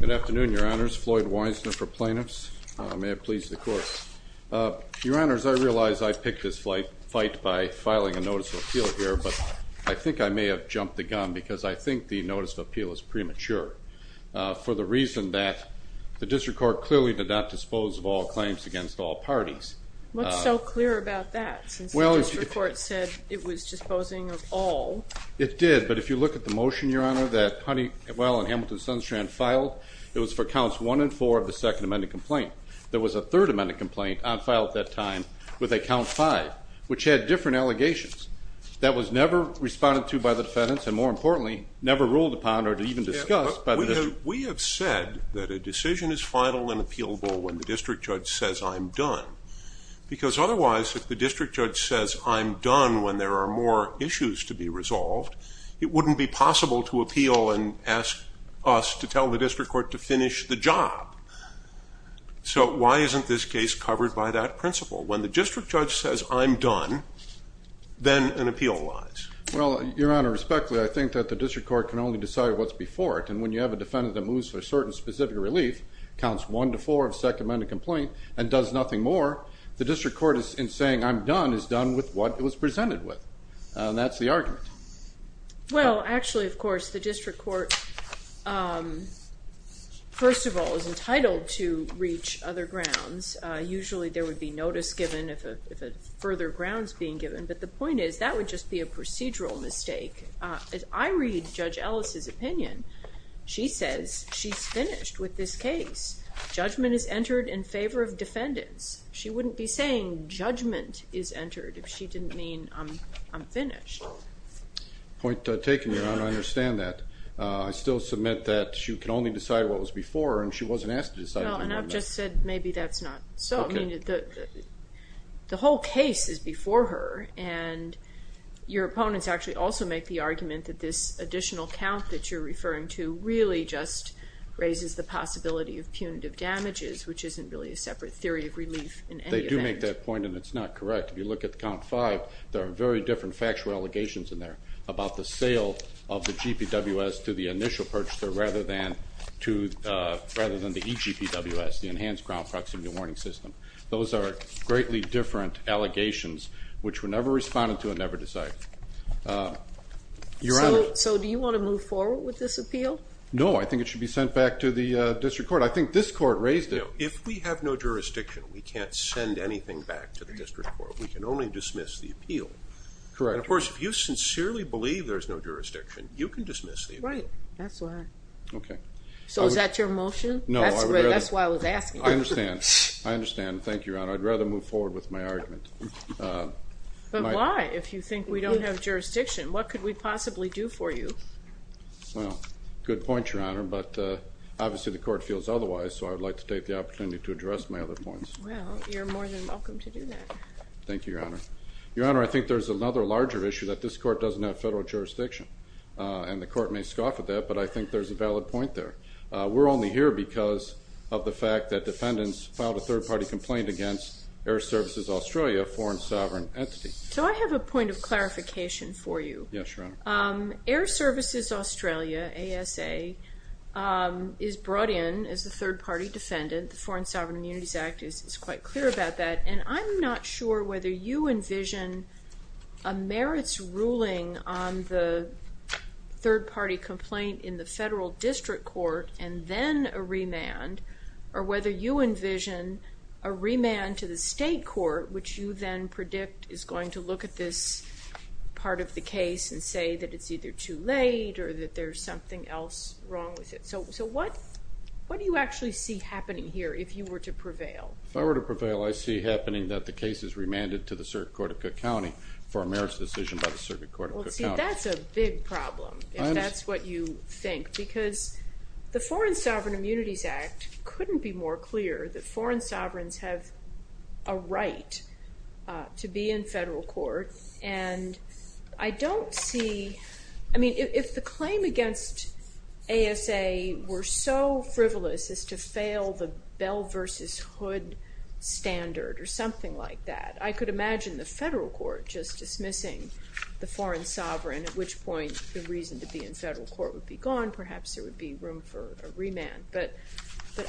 Good afternoon, Your Honors. Floyd Weissner for Plaintiffs. May it please the Court. Your Honors, I realize I picked this fight by filing a Notice of Appeal here, but I think I may have jumped the gun because I think the Notice of Appeal is premature for the reason that the District Court clearly did not dispose of all claims against all parties. What's so clear about that, since the District Court said it was disposing of all? It did, but if you look at the motion, Your Honor, that Honeywell and Hamilton-Sunstrand filed, it was for Counts 1 and 4 of the Second Amendment complaint. There was a Third Amendment complaint on file at that time with a Count 5, which had different allegations. That was never responded to by the defendants, and more importantly, never ruled upon or even discussed by the District. We have said that a decision is final and appealable when the District Judge says, I'm done. Because otherwise, if the District Judge says, I'm done when there are more issues to be resolved, it wouldn't be possible to appeal and ask us to tell the District Court to finish the job. So why isn't this case covered by that principle? When the District Judge says, I'm done, then an appeal lies. Well, Your Honor, respectfully, I think that the District Court can only decide what's before it. And when you have a defendant that moves to a certain specific relief, Counts 1 to 4 of the Second Amendment complaint, and does nothing more, the District Court, in saying, I'm done, is done with what it was presented with. And that's the argument. Well, actually, of course, the District Court, first of all, is entitled to reach other grounds. Usually there would be notice given if further ground is being given. But the point is, that would just be a procedural mistake. I read Judge Ellis' opinion. She says, she's finished with this case. Judgment is entered in favor of defendants. She wouldn't be saying, judgment is entered, if she didn't mean, I'm finished. Point taken, Your Honor. I understand that. I still submit that she can only decide what was before, and she wasn't asked to decide what was before. No, and I've just said, maybe that's not so. The whole case is before her, and your opponents actually also make the argument that this additional count that you're referring to really just raises the possibility of punitive damages, which isn't really a separate theory of relief in any event. They do make that point, and it's not correct. If you look at Count 5, there are very different factual allegations in there about the sale of the GPWS to the initial purchaser, rather than the eGPWS, the Enhanced Ground Proximity Warning System. Those are greatly different allegations, which were never responded to and never decided. So, do you want to move forward with this appeal? No, I think it should be sent back to the district court. I think this court raised it. If we have no jurisdiction, we can't send anything back to the district court. We can only dismiss the appeal. Correct. And of course, if you sincerely believe there's no jurisdiction, you can dismiss the appeal. Right, that's why. Okay. So, is that your motion? No. That's why I was asking. I understand. I understand. Thank you, Your Honor. I'd rather move forward with my argument. But why? If you think we don't have jurisdiction, what could we possibly do for you? Well, good point, Your Honor, but obviously the court feels otherwise, so I would like to take the opportunity to address my other points. Well, you're more than welcome to do that. Thank you, Your Honor. Your Honor, I think there's another larger issue that this court doesn't have federal jurisdiction, and the court may scoff at that, but I think there's a valid point there. We're only here because of the fact that defendants filed a third-party complaint against Air Services Australia, a foreign sovereign entity. So I have a point of clarification for you. Yes, Your Honor. Air Services Australia, ASA, is brought in as a third-party defendant. The Foreign Sovereign Immunities Act is quite clear about that, and I'm not sure whether you envision a merits ruling on the third-party complaint in the federal district court and then a remand, or whether you envision a remand to the state court, which you then predict is going to look at this part of the case and say that it's either too late or that there's something else wrong with it. So what do you actually see happening here if you were to prevail? If I were to prevail, I see happening that the case is remanded to the Circuit Court of Cook County for a merits decision by the Circuit Court of Cook County. Well, see, that's a big problem, if that's what you think, because the Foreign Sovereign Immunities Act couldn't be more clear that foreign sovereigns have a right to be in federal court. And I don't see, I mean, if the claim against ASA were so frivolous as to fail the Bell versus Hood standard or something like that, I could imagine the federal court just dismissing the foreign sovereign, at which point the reason to be in federal court would be gone, perhaps there would be room for a remand. But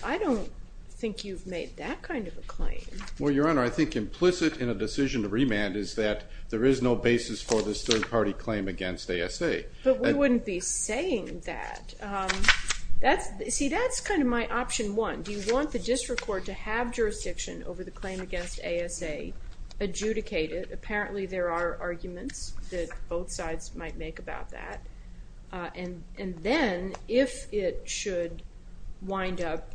I don't think you've made that kind of a claim. Well, Your Honor, I think implicit in a decision to remand is that there is no basis for this third-party claim against ASA. But we wouldn't be saying that. See, that's kind of my option one. Do you want the district court to have jurisdiction over the claim against ASA adjudicated? Apparently there are arguments that both sides might make about that. And then, if it should wind up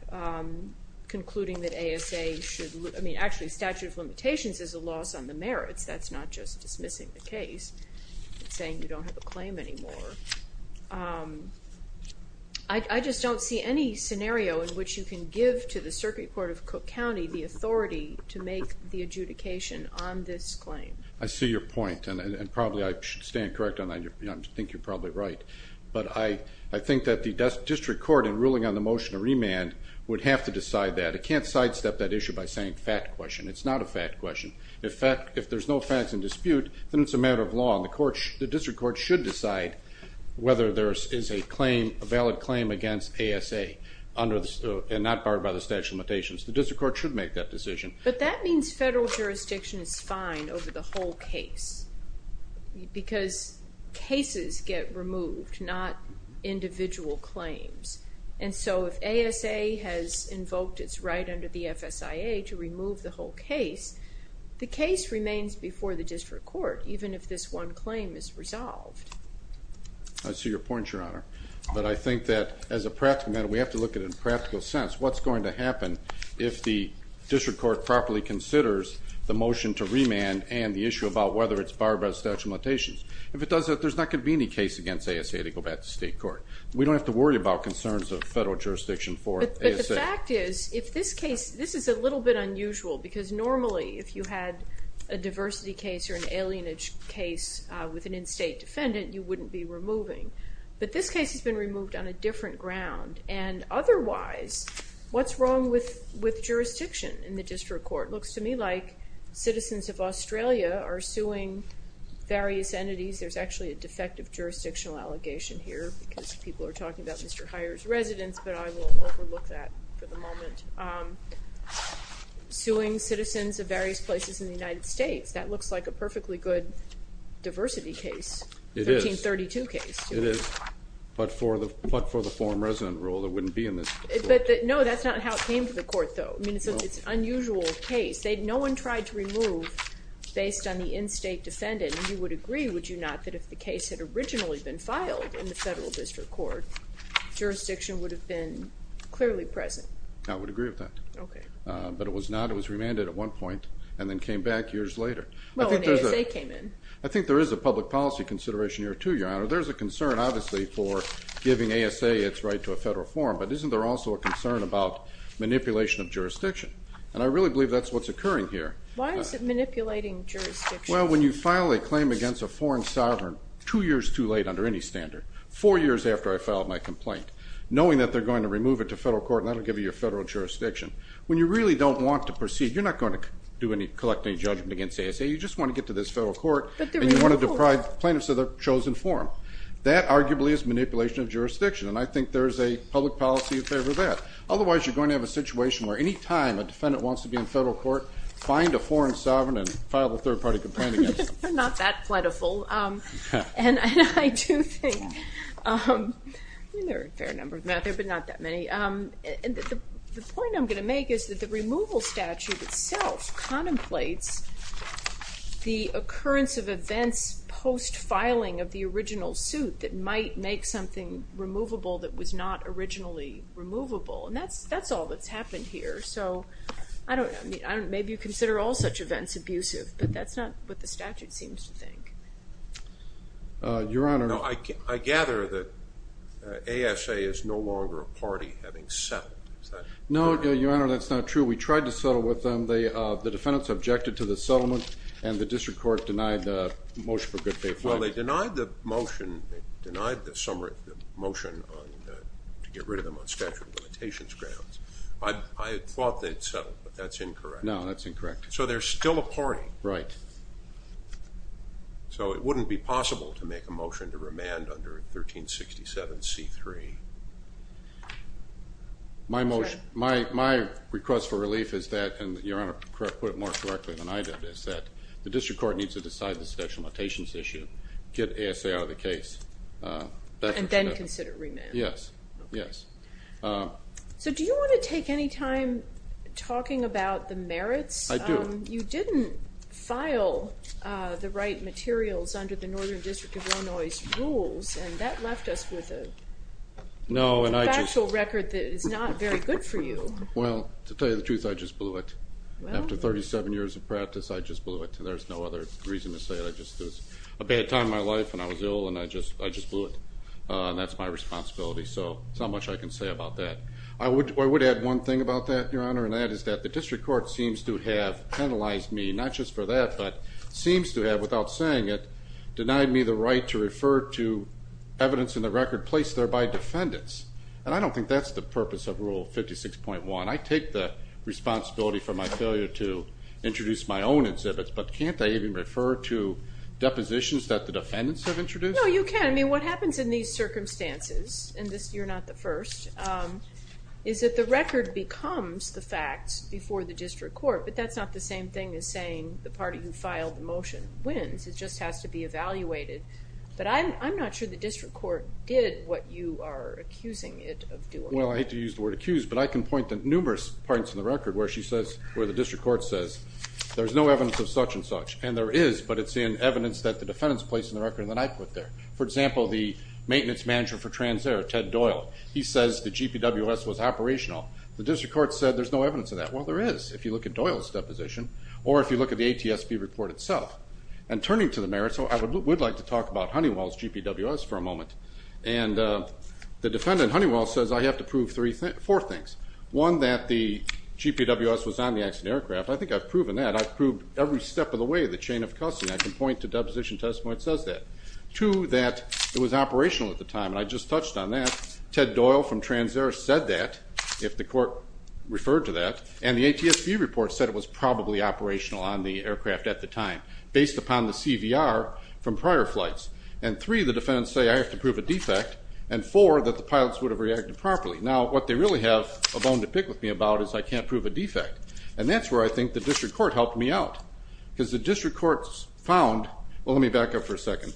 concluding that ASA should, I mean, actually statute of limitations is a loss on the merits, that's not just dismissing the case, saying you don't have a claim anymore. I just don't see any scenario in which you can give to the circuit court of Cook County the authority to make the adjudication on this claim. I see your point, and probably I stand correct on that. I think you're probably right. But I think that the district court in ruling on the motion to remand would have to decide that. It can't sidestep that issue by saying fact question. It's not a fact question. If there's no facts in dispute, then it's a matter of law, and the district court should decide whether there is a claim, a valid claim against ASA and not barred by the statute of limitations. The district court should make that decision. But that means federal jurisdiction is fine over the whole case because cases get removed, not individual claims. And so if ASA has invoked its right under the FSIA to remove the whole case, the case remains before the district court, even if this one claim is resolved. I see your point, Your Honor. But I think that as a practical matter, we have to look at it in a practical sense. What's going to happen if the district court properly considers the motion to remand and the issue about whether it's barred by the statute of limitations? If it does that, there's not going to be any case against ASA to go back to state court. We don't have to worry about concerns of federal jurisdiction for ASA. But the fact is, if this case – this is a little bit unusual because normally if you had a diversity case or an alien case with an in-state defendant, you wouldn't be removing. But this case has been removed on a different ground. And otherwise, what's wrong with jurisdiction in the district court? It looks to me like citizens of Australia are suing various entities. There's actually a defective jurisdictional allegation here because people are talking about Mr. Hyer's residence, but I will overlook that for the moment. Suing citizens of various places in the United States, that looks like a perfectly good diversity case, 1332 case. It is, but for the foreign resident rule, it wouldn't be in this court. But no, that's not how it came to the court, though. I mean, it's an unusual case. No one tried to remove based on the in-state defendant. And you would agree, would you not, that if the case had originally been filed in the federal district court, jurisdiction would have been clearly present. I would agree with that. Okay. But it was not. It was remanded at one point and then came back years later. I think there is a public policy consideration here too, Your Honor. There's a concern, obviously, for giving ASA its right to a federal forum, but isn't there also a concern about manipulation of jurisdiction? And I really believe that's what's occurring here. Why is it manipulating jurisdiction? Well, when you file a claim against a foreign sovereign two years too late under any standard, four years after I filed my complaint, knowing that they're going to remove it to federal court and that will give you your federal jurisdiction, when you really don't want to proceed, you're not going to collect any judgment against ASA. You just want to get to this federal court and you want to deprive plaintiffs of their chosen forum. That arguably is manipulation of jurisdiction, and I think there is a public policy in favor of that. Otherwise, you're going to have a situation where any time a defendant wants to be in federal court, find a foreign sovereign and file a third-party complaint against them. They're not that plentiful. And I do think there are a fair number of them out there, but not that many. The point I'm going to make is that the removal statute itself contemplates the occurrence of events post-filing of the original suit that might make something removable that was not originally removable, and that's all that's happened here. So I don't know. Maybe you consider all such events abusive, but that's not what the statute seems to think. Your Honor. No, I gather that ASA is no longer a party having settled. No, Your Honor, that's not true. We tried to settle with them. The defendants objected to the settlement, and the district court denied the motion for good faith filing. Well, they denied the motion to get rid of them on statute of limitations grounds. I thought they'd settled, but that's incorrect. No, that's incorrect. So they're still a party. Right. So it wouldn't be possible to make a motion to remand under 1367C3. My request for relief is that, and Your Honor put it more correctly than I did, is that the district court needs to decide the statute of limitations issue, get ASA out of the case. And then consider remand. Yes. So do you want to take any time talking about the merits? I do. You didn't file the right materials under the Northern District of Illinois' rules, and that left us with a factual record that is not very good for you. Well, to tell you the truth, I just blew it. After 37 years of practice, I just blew it. There's no other reason to say it. It was a bad time in my life, and I was ill, and I just blew it. And that's my responsibility, so there's not much I can say about that. I would add one thing about that, Your Honor, and that is that the district court seems to have penalized me, not just for that, but seems to have, without saying it, denied me the right to refer to evidence in the record placed there by defendants. And I don't think that's the purpose of Rule 56.1. I take the responsibility for my failure to introduce my own exhibits, but can't I even refer to depositions that the defendants have introduced? No, you can. But, I mean, what happens in these circumstances, and you're not the first, is that the record becomes the facts before the district court, but that's not the same thing as saying the party who filed the motion wins. It just has to be evaluated. But I'm not sure the district court did what you are accusing it of doing. Well, I hate to use the word accused, but I can point to numerous parts in the record where the district court says, there's no evidence of such and such. For example, the maintenance manager for Transair, Ted Doyle, he says the GPWS was operational. The district court said there's no evidence of that. Well, there is if you look at Doyle's deposition or if you look at the ATSB report itself. And turning to the merits, I would like to talk about Honeywell's GPWS for a moment. And the defendant, Honeywell, says I have to prove four things. One, that the GPWS was on the accident aircraft. I think I've proven that. I've proved every step of the way the chain of custody. I can point to deposition testimony that says that. Two, that it was operational at the time. And I just touched on that. Ted Doyle from Transair said that if the court referred to that. And the ATSB report said it was probably operational on the aircraft at the time based upon the CVR from prior flights. And three, the defendants say I have to prove a defect. And four, that the pilots would have reacted properly. Now, what they really have a bone to pick with me about is I can't prove a defect. And that's where I think the district court helped me out because the district court found, well, let me back up for a second.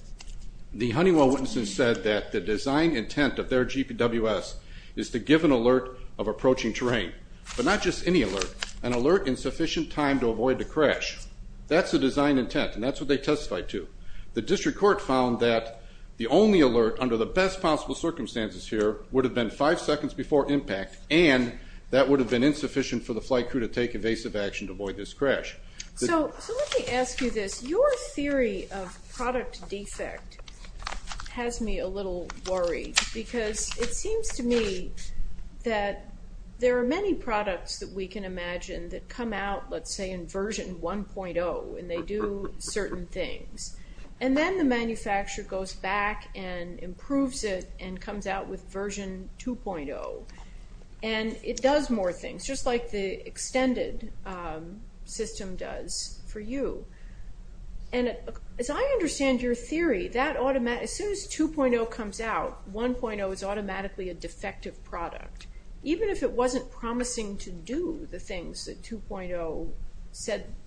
The Honeywell witnesses said that the design intent of their GPWS is to give an alert of approaching terrain. But not just any alert, an alert in sufficient time to avoid the crash. That's the design intent, and that's what they testified to. The district court found that the only alert under the best possible circumstances here would have been five seconds before impact, and that would have been insufficient for the flight crew to take evasive action to avoid this crash. So let me ask you this. Your theory of product defect has me a little worried because it seems to me that there are many products that we can imagine that come out, let's say, in version 1.0, and they do certain things. And then the manufacturer goes back and improves it and comes out with version 2.0, and it does more things, just like the extended system does for you. And as I understand your theory, as soon as 2.0 comes out, 1.0 is automatically a defective product, even if it wasn't promising to do the things that 2.0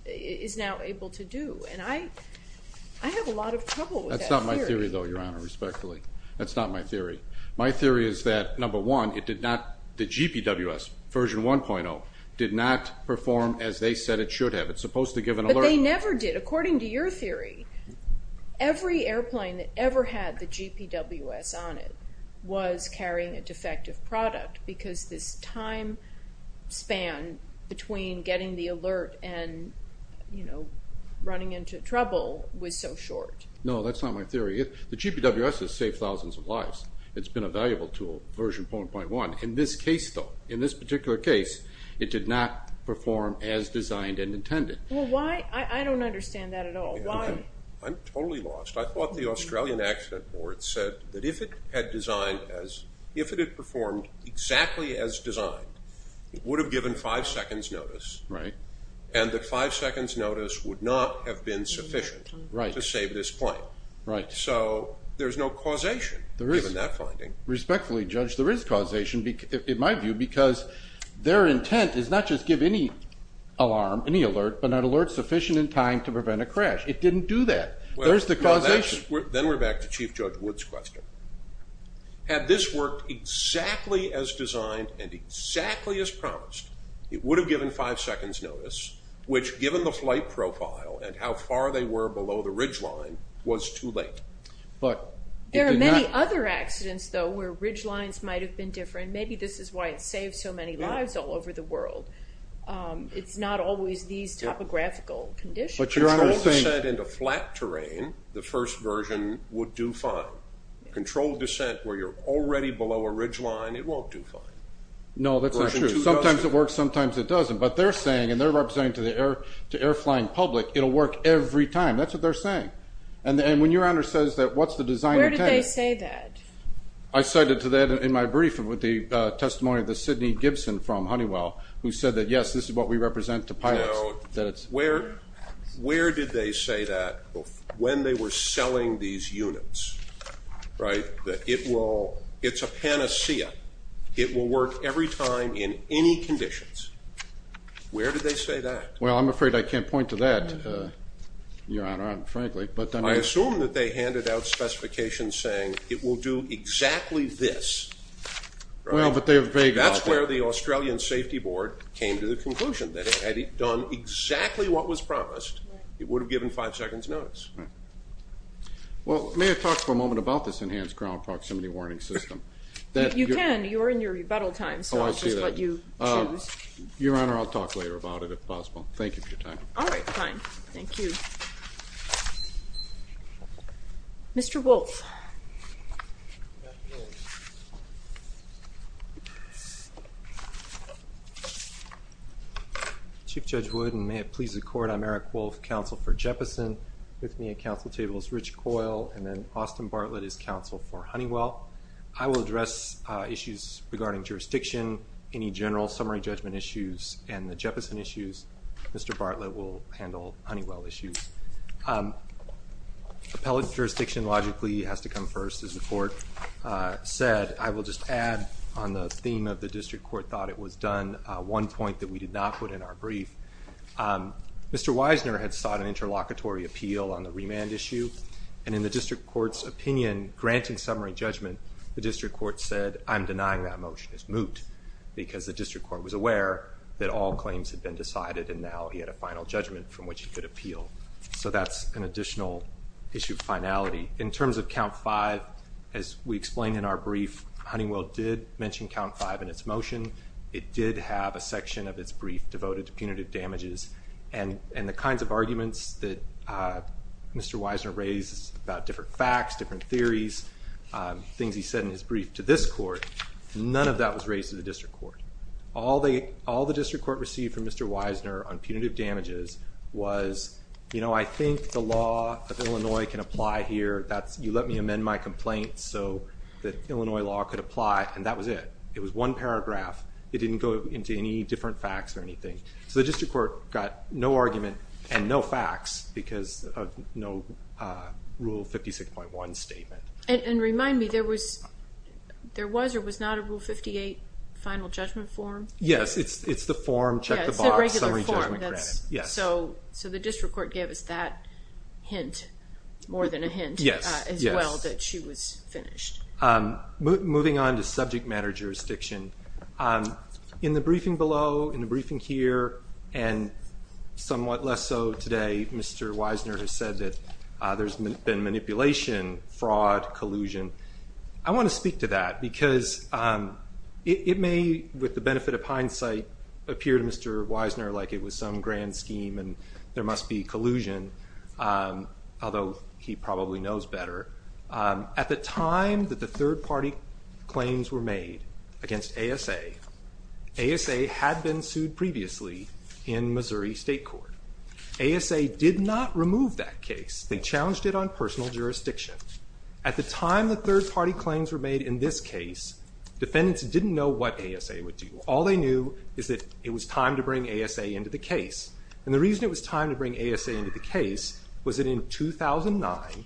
is now able to do. And I have a lot of trouble with that theory. That's not my theory, though, Your Honor, respectfully. That's not my theory. My theory is that, number one, the GPWS, version 1.0, did not perform as they said it should have. It's supposed to give an alert. But they never did. According to your theory, every airplane that ever had the GPWS on it was carrying a defective product because this time span between getting the alert and running into trouble was so short. No, that's not my theory. The GPWS has saved thousands of lives. It's been a valuable tool, version 1.1. In this case, though, in this particular case, it did not perform as designed and intended. Well, why? I don't understand that at all. Why? I'm totally lost. I thought the Australian Accident Board said that if it had designed as if it had performed exactly as designed, it would have given five seconds notice and that five seconds notice would not have been sufficient to save this plane. Right. So there's no causation, given that finding. Respectfully, Judge, there is causation, in my view, because their intent is not just give any alarm, any alert, but an alert sufficient in time to prevent a crash. It didn't do that. There's the causation. Then we're back to Chief Judge Wood's question. Had this worked exactly as designed and exactly as promised, it would have given five seconds notice, which, given the flight profile and how far they were below the ridgeline, was too late. There are many other accidents, though, where ridgelines might have been different. Maybe this is why it saved so many lives all over the world. It's not always these topographical conditions. Control descent into flat terrain, the first version, would do fine. Control descent where you're already below a ridgeline, it won't do fine. No, that's not true. Sometimes it works, sometimes it doesn't. But they're saying, and they're representing to the air-flying public, it will work every time. That's what they're saying. And when your Honor says that, what's the design intent? Where did they say that? I cited to that in my brief with the testimony of the Sidney Gibson from Honeywell, who said that, yes, this is what we represent to pilots. Where did they say that when they were selling these units, right, that it's a panacea, it will work every time in any conditions? Where did they say that? Well, I'm afraid I can't point to that, Your Honor, frankly. I assume that they handed out specifications saying it will do exactly this. Well, but they were vague about that. That's where the Australian Safety Board came to the conclusion, that had it done exactly what was promised, it would have given five seconds notice. Well, may I talk for a moment about this enhanced ground proximity warning system? You can. You're in your rebuttal time, so I'll just let you choose. Your Honor, I'll talk later about it, if possible. Thank you for your time. All right, fine. Thank you. Mr. Wolfe. Chief Judge Wood, and may it please the Court, I'm Eric Wolfe, counsel for Jeppesen. With me at counsel table is Rich Coyle, and then Austin Bartlett is counsel for Honeywell. I will address issues regarding jurisdiction, any general summary judgment issues, and the Jeppesen issues. Mr. Bartlett will handle Honeywell issues. Appellate jurisdiction logically has to come first, as the Court said. I will just add on the theme of the district court thought it was done, one point that we did not put in our brief. Mr. Wisner had sought an interlocutory appeal on the remand issue, and in the district court's opinion, granting summary judgment, the district court said, I'm denying that motion. It's moot, because the district court was aware that all claims had been decided, and now he had a final judgment from which he could appeal. So that's an additional issue of finality. In terms of count five, as we explained in our brief, Honeywell did mention count five in its motion. It did have a section of its brief devoted to punitive damages, and the kinds of arguments that Mr. Wisner raised about different facts, different theories, things he said in his brief to this court, none of that was raised to the district court. All the district court received from Mr. Wisner on punitive damages was, you know, I think the law of Illinois can apply here. You let me amend my complaint so that Illinois law could apply, and that was it. It was one paragraph. It didn't go into any different facts or anything. So the district court got no argument and no facts because of no Rule 56.1 statement. And remind me, there was or was not a Rule 58 final judgment form? Yes, it's the form, check the box, summary judgment credit. So the district court gave us that hint, more than a hint, as well, that she was finished. Moving on to subject matter jurisdiction, in the briefing below, in the briefing here, and somewhat less so today, Mr. Wisner has said that there's been manipulation, fraud, collusion. I want to speak to that because it may, with the benefit of hindsight, appear to Mr. Wisner like it was some grand scheme and there must be collusion, although he probably knows better. At the time that the third-party claims were made against ASA, ASA had been sued previously in Missouri State Court. ASA did not remove that case. They challenged it on personal jurisdiction. At the time the third-party claims were made in this case, defendants didn't know what ASA would do. All they knew is that it was time to bring ASA into the case. And the reason it was time to bring ASA into the case was that in 2009,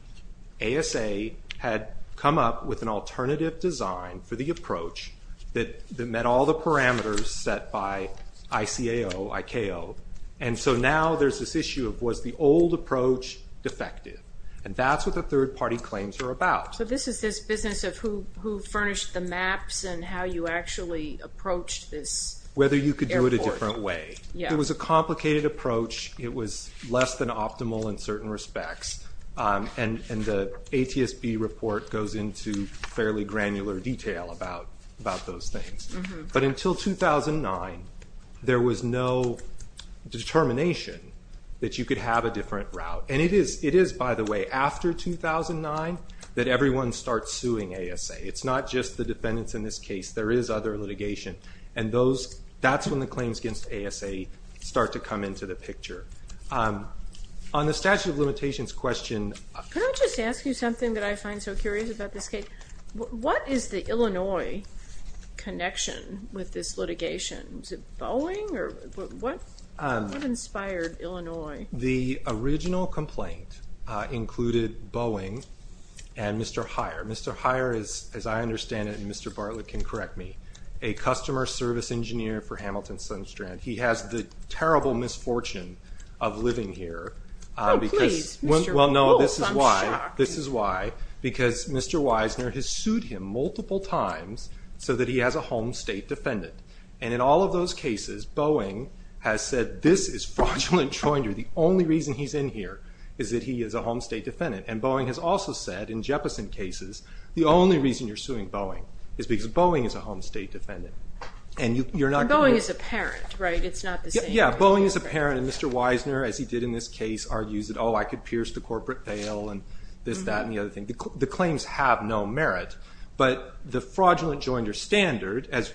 ASA had come up with an alternative design for the approach that met all the parameters set by ICAO, I-K-O. And so now there's this issue of was the old approach defective? And that's what the third-party claims are about. So this is this business of who furnished the maps and how you actually approached this air force. Whether you could do it a different way. It was a complicated approach. It was less than optimal in certain respects. And the ATSB report goes into fairly granular detail about those things. But until 2009, there was no determination that you could have a different route. And it is, by the way, after 2009 that everyone starts suing ASA. It's not just the defendants in this case. There is other litigation. And that's when the claims against ASA start to come into the picture. On the statute of limitations question. Can I just ask you something that I find so curious about this case? What is the Illinois connection with this litigation? Was it Boeing or what inspired Illinois? The original complaint included Boeing and Mr. Heyer. Mr. Heyer, as I understand it, and Mr. Bartlett can correct me, a customer service engineer for Hamilton Sunstrand. He has the terrible misfortune of living here. Oh, please, Mr. Wolf, I'm shocked. Well, no, this is why. Because Mr. Wisner has sued him multiple times so that he has a home state defendant. And in all of those cases, Boeing has said this is fraudulent joinery. The only reason he's in here is that he is a home state defendant. And Boeing has also said, in Jeppesen cases, the only reason you're suing Boeing is because Boeing is a home state defendant. And Boeing is a parent, right? It's not the same. Yeah, Boeing is a parent, and Mr. Wisner, as he did in this case, argues that, oh, I could pierce the corporate veil and this, that, and the other thing. The claims have no merit. But the fraudulent joinery standard, as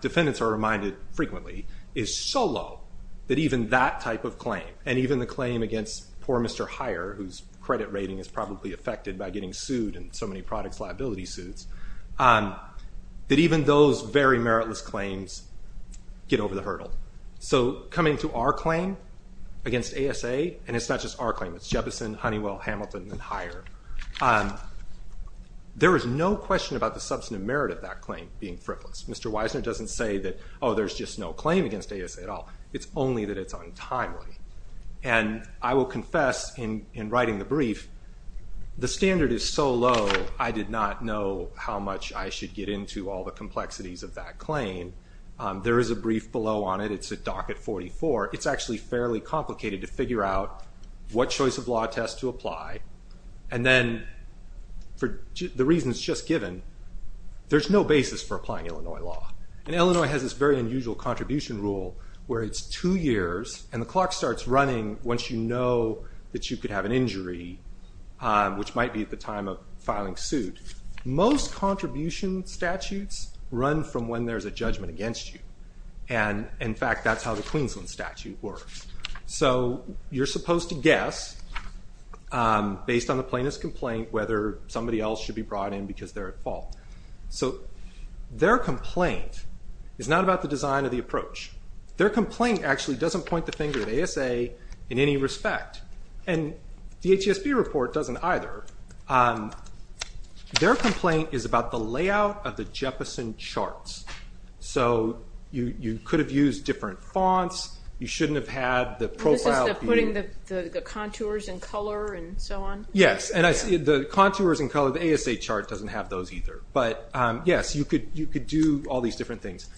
defendants are reminded frequently, is so low that even that type of claim, and even the claim against poor Mr. Heyer, whose credit rating is probably affected by getting sued in so many products liability suits, that even those very meritless claims get over the hurdle. So coming to our claim against ASA, and it's not just our claim, it's Jeppesen, Honeywell, Hamilton, and higher, there is no question about the substantive merit of that claim being frivolous. Mr. Wisner doesn't say that, oh, there's just no claim against ASA at all. It's only that it's untimely. And I will confess in writing the brief, the standard is so low I did not know how much I should get into all the complexities of that claim. There is a brief below on it. It's a docket 44. It's actually fairly complicated to figure out what choice of law test to apply. And then for the reasons just given, there's no basis for applying Illinois law. And Illinois has this very unusual contribution rule where it's two years, and the clock starts running once you know that you could have an injury, which might be at the time of filing suit. Most contribution statutes run from when there's a judgment against you. And, in fact, that's how the Queensland statute works. So you're supposed to guess, based on the plaintiff's complaint, whether somebody else should be brought in because they're at fault. So their complaint is not about the design or the approach. Their complaint actually doesn't point the finger at ASA in any respect. And the ATSB report doesn't either. Their complaint is about the layout of the Jefferson charts. So you could have used different fonts. You shouldn't have had the profile. This is the putting the contours and color and so on? Yes. And the contours and color of the ASA chart doesn't have those either. But, yes, you could do all these different things.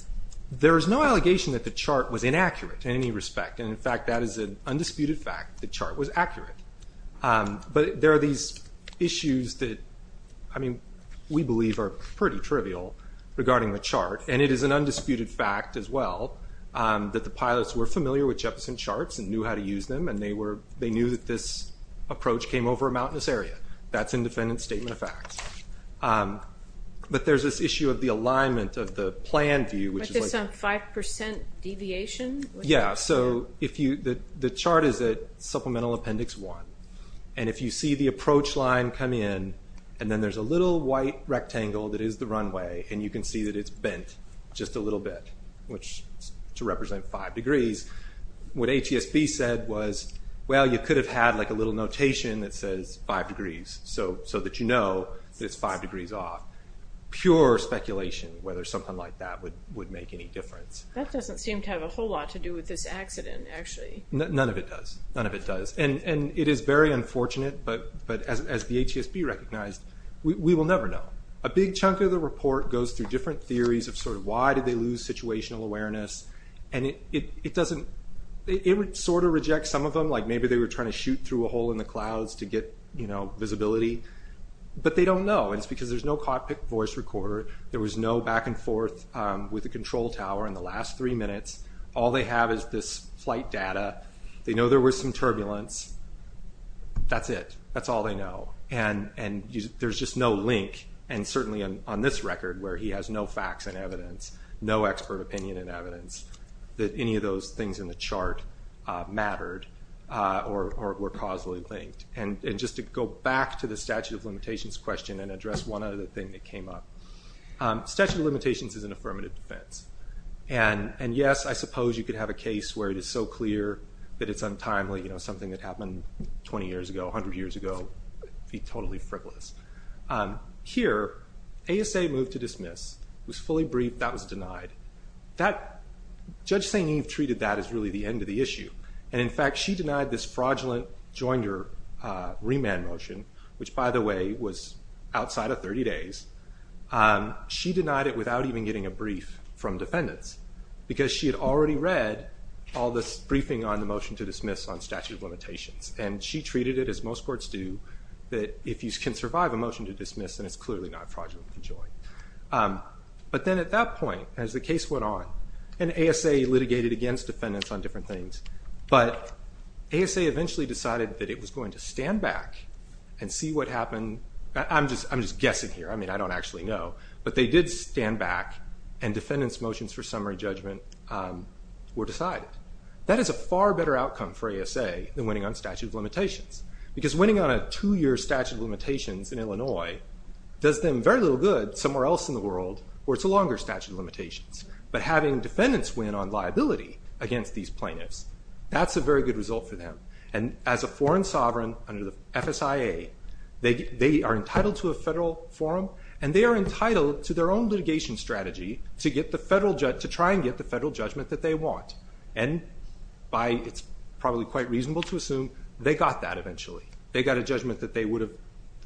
There is no allegation that the chart was inaccurate in any respect. And, in fact, that is an undisputed fact, the chart was accurate. But there are these issues that, I mean, we believe are pretty trivial regarding the chart. And it is an undisputed fact as well that the pilots were familiar with Jefferson charts and knew how to use them, and they knew that this approach came over a mountainous area. That's an independent statement of facts. But there's this issue of the alignment of the plan view. But there's some 5% deviation? Yes. So the chart is at Supplemental Appendix 1. And if you see the approach line come in, and then there's a little white rectangle that is the runway, and you can see that it's bent just a little bit to represent 5 degrees, what ATSB said was, well, you could have had like a little notation that says 5 degrees so that you know that it's 5 degrees off. Pure speculation whether something like that would make any difference. That doesn't seem to have a whole lot to do with this accident, actually. None of it does. None of it does. And it is very unfortunate, but as the ATSB recognized, we will never know. A big chunk of the report goes through different theories of sort of why did they lose situational awareness, and it sort of rejects some of them, like maybe they were trying to shoot through a hole in the clouds to get visibility. But they don't know, and it's because there's no cockpit voice recorder. There was no back and forth with the control tower in the last three minutes. All they have is this flight data. They know there was some turbulence. That's it. That's all they know. And there's just no link, and certainly on this record where he has no facts and evidence, no expert opinion and evidence, that any of those things in the chart mattered or were causally linked. And just to go back to the statute of limitations question and address one other thing that came up. Statute of limitations is an affirmative defense. And yes, I suppose you could have a case where it is so clear that it's untimely, something that happened 20 years ago, 100 years ago. It would be totally frivolous. Here, ASA moved to dismiss. It was fully briefed. That was denied. Judge St. Eve treated that as really the end of the issue. And, in fact, she denied this fraudulent joinder remand motion, which, by the way, was outside of 30 days. She denied it without even getting a brief from defendants because she had already read all this briefing on the motion to dismiss on statute of limitations. And she treated it, as most courts do, that if you can survive a motion to dismiss, then it's clearly not fraudulent to join. But then at that point, as the case went on, and ASA litigated against defendants on different things, but ASA eventually decided that it was going to stand back and see what happened. I'm just guessing here. I mean, I don't actually know. But they did stand back, and defendants' motions for summary judgment were decided. Because winning on a two-year statute of limitations in Illinois does them very little good somewhere else in the world where it's a longer statute of limitations. But having defendants win on liability against these plaintiffs, that's a very good result for them. And as a foreign sovereign under the FSIA, they are entitled to a federal forum, and they are entitled to their own litigation strategy to try and get the federal judgment that they want. And it's probably quite reasonable to assume they got that eventually. They got a judgment that they would have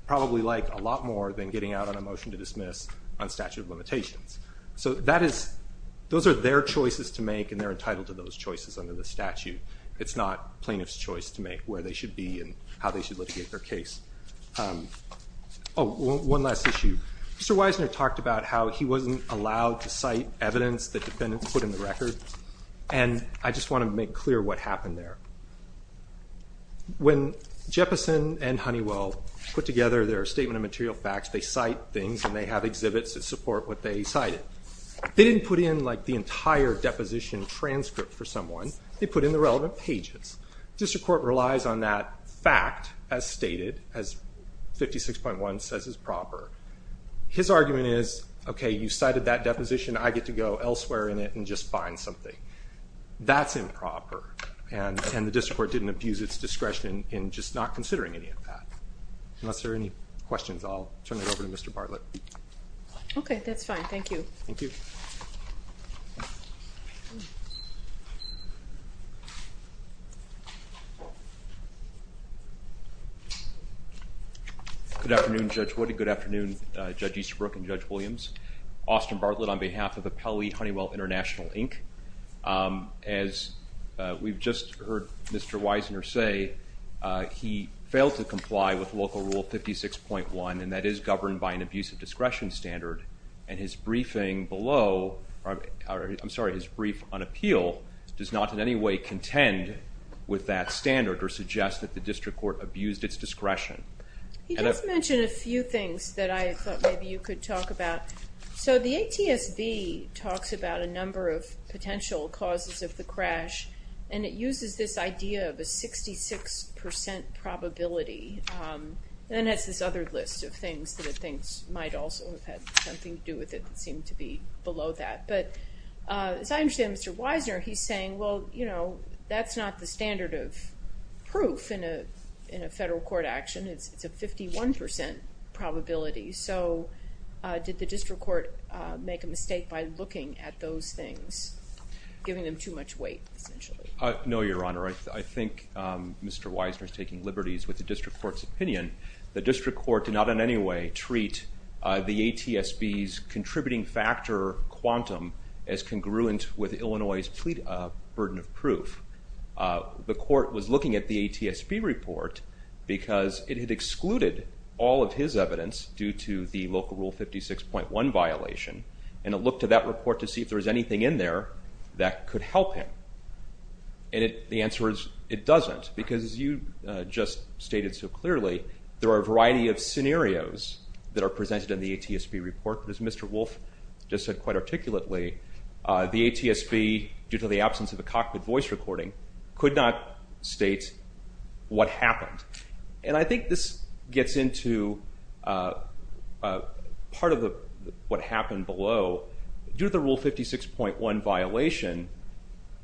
probably liked a lot more than getting out on a motion to dismiss on statute of limitations. So those are their choices to make, and they're entitled to those choices under the statute. It's not plaintiffs' choice to make, where they should be and how they should litigate their case. Oh, one last issue. Mr. Weisner talked about how he wasn't allowed to cite evidence that defendants put in the record, and I just want to make clear what happened there. When Jeppesen and Honeywell put together their statement of material facts, they cite things, and they have exhibits that support what they cited. They didn't put in, like, the entire deposition transcript for someone. They put in the relevant pages. District Court relies on that fact as stated, as 56.1 says is proper. His argument is, okay, you cited that deposition. I get to go elsewhere in it and just find something. That's improper, and the District Court didn't abuse its discretion in just not considering any of that. Unless there are any questions, I'll turn it over to Mr. Bartlett. Okay, that's fine. Thank you. Thank you. Good afternoon, Judge Wood. Good afternoon, Judge Easterbrook and Judge Williams. Austin Bartlett on behalf of the Pelley Honeywell International, Inc. As we've just heard Mr. Wiesner say, he failed to comply with Local Rule 56.1, and that is governed by an abusive discretion standard, and his briefing below, I'm sorry, his brief on appeal, does not in any way contend with that standard or suggest that the District Court abused its discretion. He does mention a few things that I thought maybe you could talk about. So the ATSB talks about a number of potential causes of the crash, and it uses this idea of a 66% probability, and then it has this other list of things that it thinks might also have had something to do with it that seemed to be below that. But as I understand Mr. Wiesner, he's saying, well, you know, that's not the standard of proof in a federal court action. It's a 51% probability. So did the District Court make a mistake by looking at those things, giving them too much weight, essentially? No, Your Honor. I think Mr. Wiesner is taking liberties with the District Court's opinion. The District Court did not in any way treat the ATSB's contributing factor quantum as congruent with Illinois' burden of proof. The Court was looking at the ATSB report because it had excluded all of his evidence due to the local rule 56.1 violation, and it looked at that report to see if there was anything in there that could help him. And the answer is it doesn't because, as you just stated so clearly, there are a variety of scenarios that are presented in the ATSB report. As Mr. Wolf just said quite articulately, the ATSB, due to the absence of a cockpit voice recording, could not state what happened. And I think this gets into part of what happened below. Due to the rule 56.1 violation,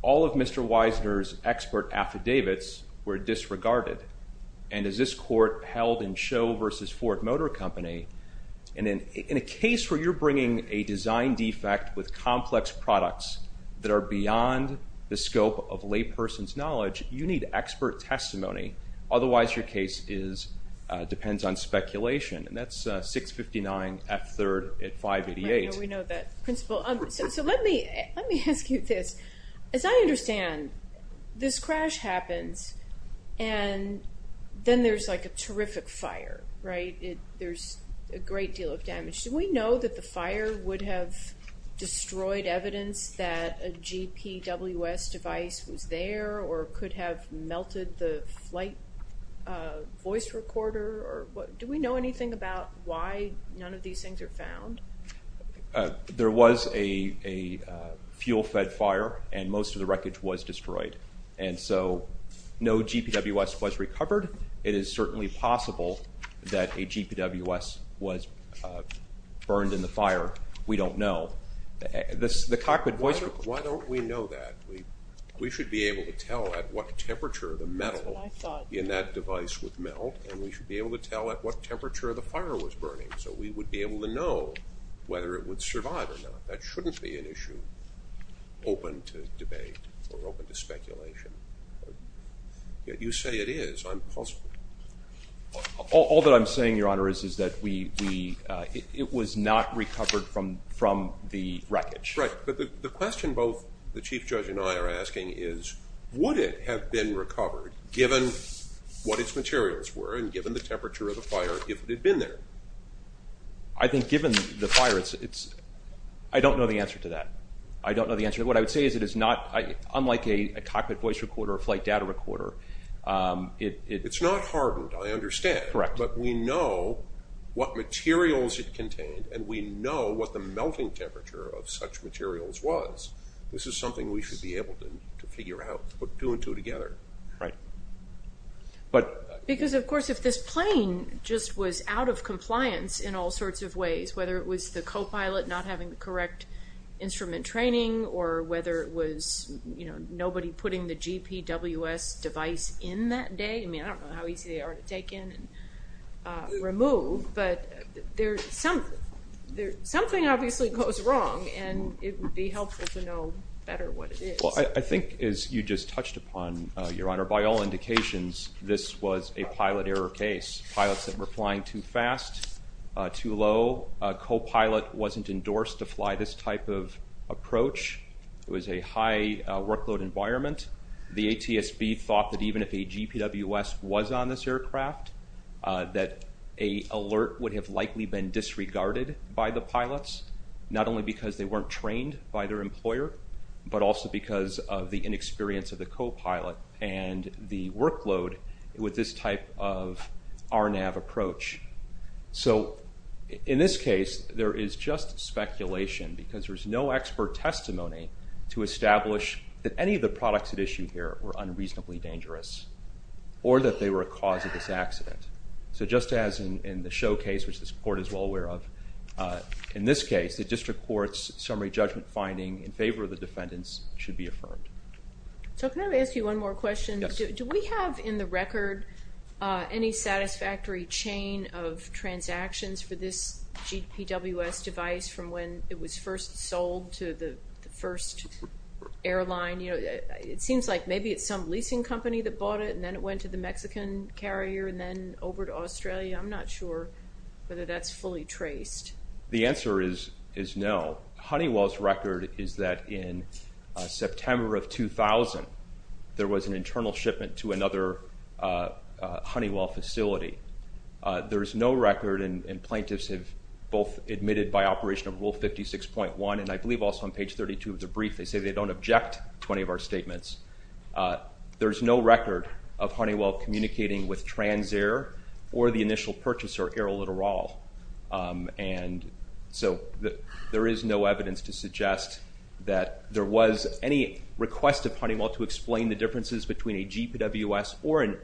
all of Mr. Wiesner's expert affidavits were disregarded. And as this court held in Show v. Ford Motor Company, in a case where you're bringing a design defect with complex products that are beyond the scope of layperson's knowledge, you need expert testimony. Otherwise, your case depends on speculation. And that's 659 F. 3rd at 588. We know that principle. So let me ask you this. As I understand, this crash happens, and then there's like a terrific fire, right? There's a great deal of damage. Do we know that the fire would have destroyed evidence that a GPWS device was there or could have melted the flight voice recorder? Do we know anything about why none of these things are found? There was a fuel-fed fire, and most of the wreckage was destroyed. And so no GPWS was recovered. It is certainly possible that a GPWS was burned in the fire. We don't know. Why don't we know that? We should be able to tell at what temperature the metal in that device would melt, and we should be able to tell at what temperature the fire was burning so we would be able to know whether it would survive or not. You say it is. All that I'm saying, Your Honor, is that it was not recovered from the wreckage. Right. But the question both the Chief Judge and I are asking is, would it have been recovered given what its materials were and given the temperature of the fire if it had been there? I think given the fire, I don't know the answer to that. I don't know the answer. What I would say is it is not unlike a cockpit voice recorder or a flight data recorder. It's not hardened, I understand. Correct. But we know what materials it contained, and we know what the melting temperature of such materials was. This is something we should be able to figure out, put two and two together. Right. Because, of course, if this plane just was out of compliance in all sorts of ways, whether it was the copilot not having the correct instrument training or whether it was nobody putting the GPWS device in that day. I mean, I don't know how easy they are to take in and remove, but something obviously goes wrong, and it would be helpful to know better what it is. Well, I think, as you just touched upon, Your Honor, by all indications, this was a pilot error case. Pilots that were flying too fast, too low. A copilot wasn't endorsed to fly this type of approach. It was a high workload environment. The ATSB thought that even if a GPWS was on this aircraft, that an alert would have likely been disregarded by the pilots, not only because they weren't trained by their employer, but also because of the inexperience of the copilot. And the workload with this type of RNAV approach. So, in this case, there is just speculation because there's no expert testimony to establish that any of the products at issue here were unreasonably dangerous or that they were a cause of this accident. So just as in the show case, which this Court is well aware of, in this case, the District Court's summary judgment finding in favor of the defendants should be affirmed. So can I ask you one more question? Yes. Do we have in the record any satisfactory chain of transactions for this GPWS device from when it was first sold to the first airline? It seems like maybe it's some leasing company that bought it and then it went to the Mexican carrier and then over to Australia. I'm not sure whether that's fully traced. The answer is no. Honeywell's record is that in September of 2000, there was an internal shipment to another Honeywell facility. There is no record, and plaintiffs have both admitted by operation of Rule 56.1, and I believe also on page 32 of the brief, they say they don't object to any of our statements. There is no record of Honeywell communicating with Transair or the initial purchaser, AeroLittoral. So there is no evidence to suggest that there was any request of Honeywell to explain the differences between a GPWS or an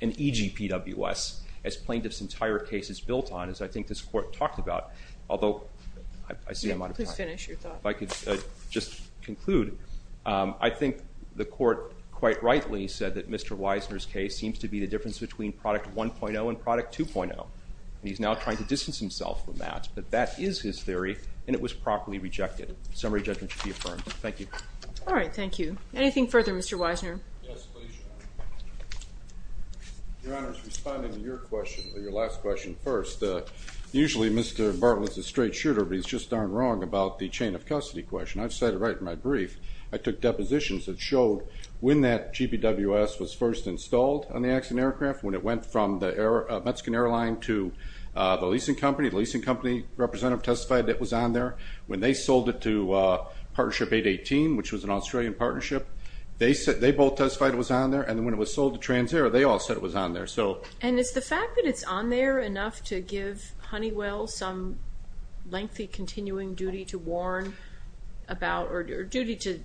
eGPWS as plaintiffs' entire case is built on, as I think this court talked about. Although I see I'm out of time. Please finish your thought. If I could just conclude, I think the court quite rightly said that Mr. Wiesner's case seems to be the difference between product 1.0 and product 2.0. He's now trying to distance himself from that, but that is his theory, and it was properly rejected. Summary judgment should be affirmed. Thank you. All right. Thank you. Anything further, Mr. Wiesner? Yes, please. Your Honor, responding to your question, your last question first, usually Mr. Bartlett's a straight shooter, but he's just darn wrong about the chain of custody question. I've said it right in my brief. I took depositions that showed when that GPWS was first installed on the accident aircraft, when it went from the Mexican airline to the leasing company, the leasing company representative testified that it was on there. When they sold it to Partnership 818, which was an Australian partnership, they both testified it was on there, and when it was sold to TransAero, they all said it was on there. And is the fact that it's on there enough to give Honeywell some lengthy continuing duty to warn about, or duty to,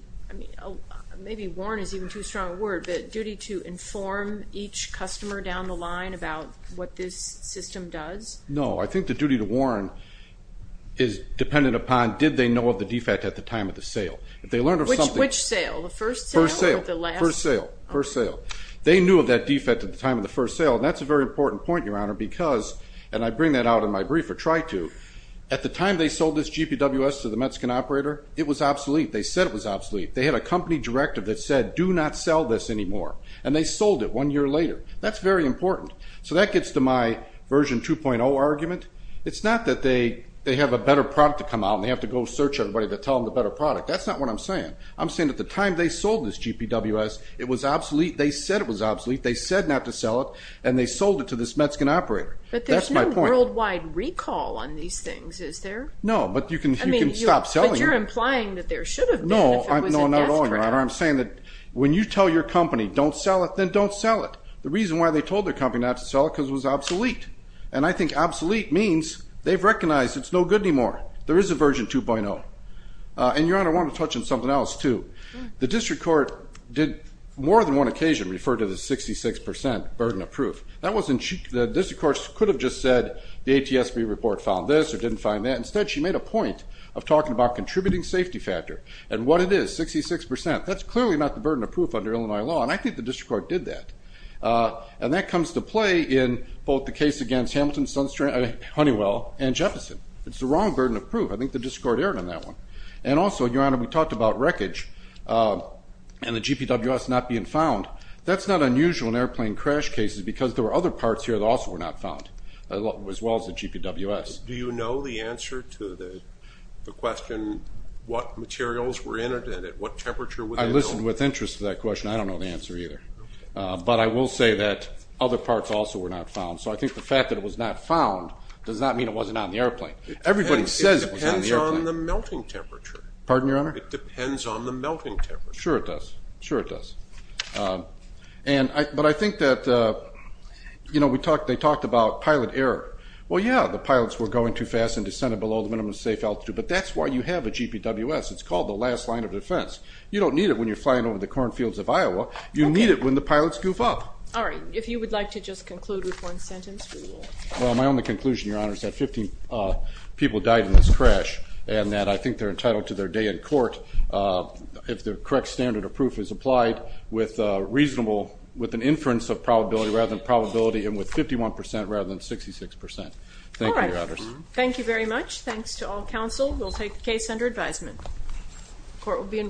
maybe warn is even too strong a word, but duty to inform each customer down the line about what this system does? No. I think the duty to warn is dependent upon did they know of the defect at the time of the sale. Which sale? The first sale or the last? First sale. First sale. They knew of that defect at the time of the first sale, and that's a very important point, Your Honor, because, and I bring that out in my brief or try to, at the time they sold this GPWS to the Mexican operator, it was obsolete. They said it was obsolete. They had a company directive that said do not sell this anymore, and they sold it one year later. That's very important. So that gets to my version 2.0 argument. It's not that they have a better product to come out and they have to go search everybody to tell them the better product. That's not what I'm saying. I'm saying at the time they sold this GPWS, it was obsolete. They said it was obsolete. They said not to sell it, and they sold it to this Mexican operator. But there's no worldwide recall on these things, is there? No, but you can stop selling them. But you're implying that there should have been if it was a gas trap. No, not at all, Your Honor. I'm saying that when you tell your company don't sell it, then don't sell it. The reason why they told their company not to sell it is because it was obsolete, and I think obsolete means they've recognized it's no good anymore. There is a version 2.0. And, Your Honor, I want to touch on something else too. The district court did more than one occasion refer to the 66% burden of proof. The district court could have just said the ATSB report found this or didn't find that. Instead, she made a point of talking about contributing safety factor and what it is, 66%. That's clearly not the burden of proof under Illinois law, and I think the district court did that. And that comes to play in both the case against Hamilton, Sunstream, Honeywell, and Jefferson. It's the wrong burden of proof. I think the district court erred on that one. And also, Your Honor, we talked about wreckage and the GPWS not being found. That's not unusual in airplane crash cases because there were other parts here that also were not found as well as the GPWS. Do you know the answer to the question what materials were in it and at what temperature were they built? I listened with interest to that question. I don't know the answer either. But I will say that other parts also were not found. So I think the fact that it was not found does not mean it wasn't on the airplane. Everybody says it was on the airplane. It depends on the melting temperature. Pardon, Your Honor? It depends on the melting temperature. Sure it does. Sure it does. But I think that, you know, they talked about pilot error. Well, yeah, the pilots were going too fast and descended below the minimum safe altitude. But that's why you have a GPWS. It's called the last line of defense. You don't need it when you're flying over the cornfields of Iowa. You need it when the pilots goof up. All right. If you would like to just conclude with one sentence, we will. Well, my only conclusion, Your Honor, is that 15 people died in this crash and that I think they're entitled to their day in court if the correct standard of proof is applied with reasonable, with an inference of probability rather than probability and with 51 percent rather than 66 percent. Thank you, Your Honors. All right. Thank you very much. Thanks to all counsel. We'll take the case under advisement. Court will be in recess.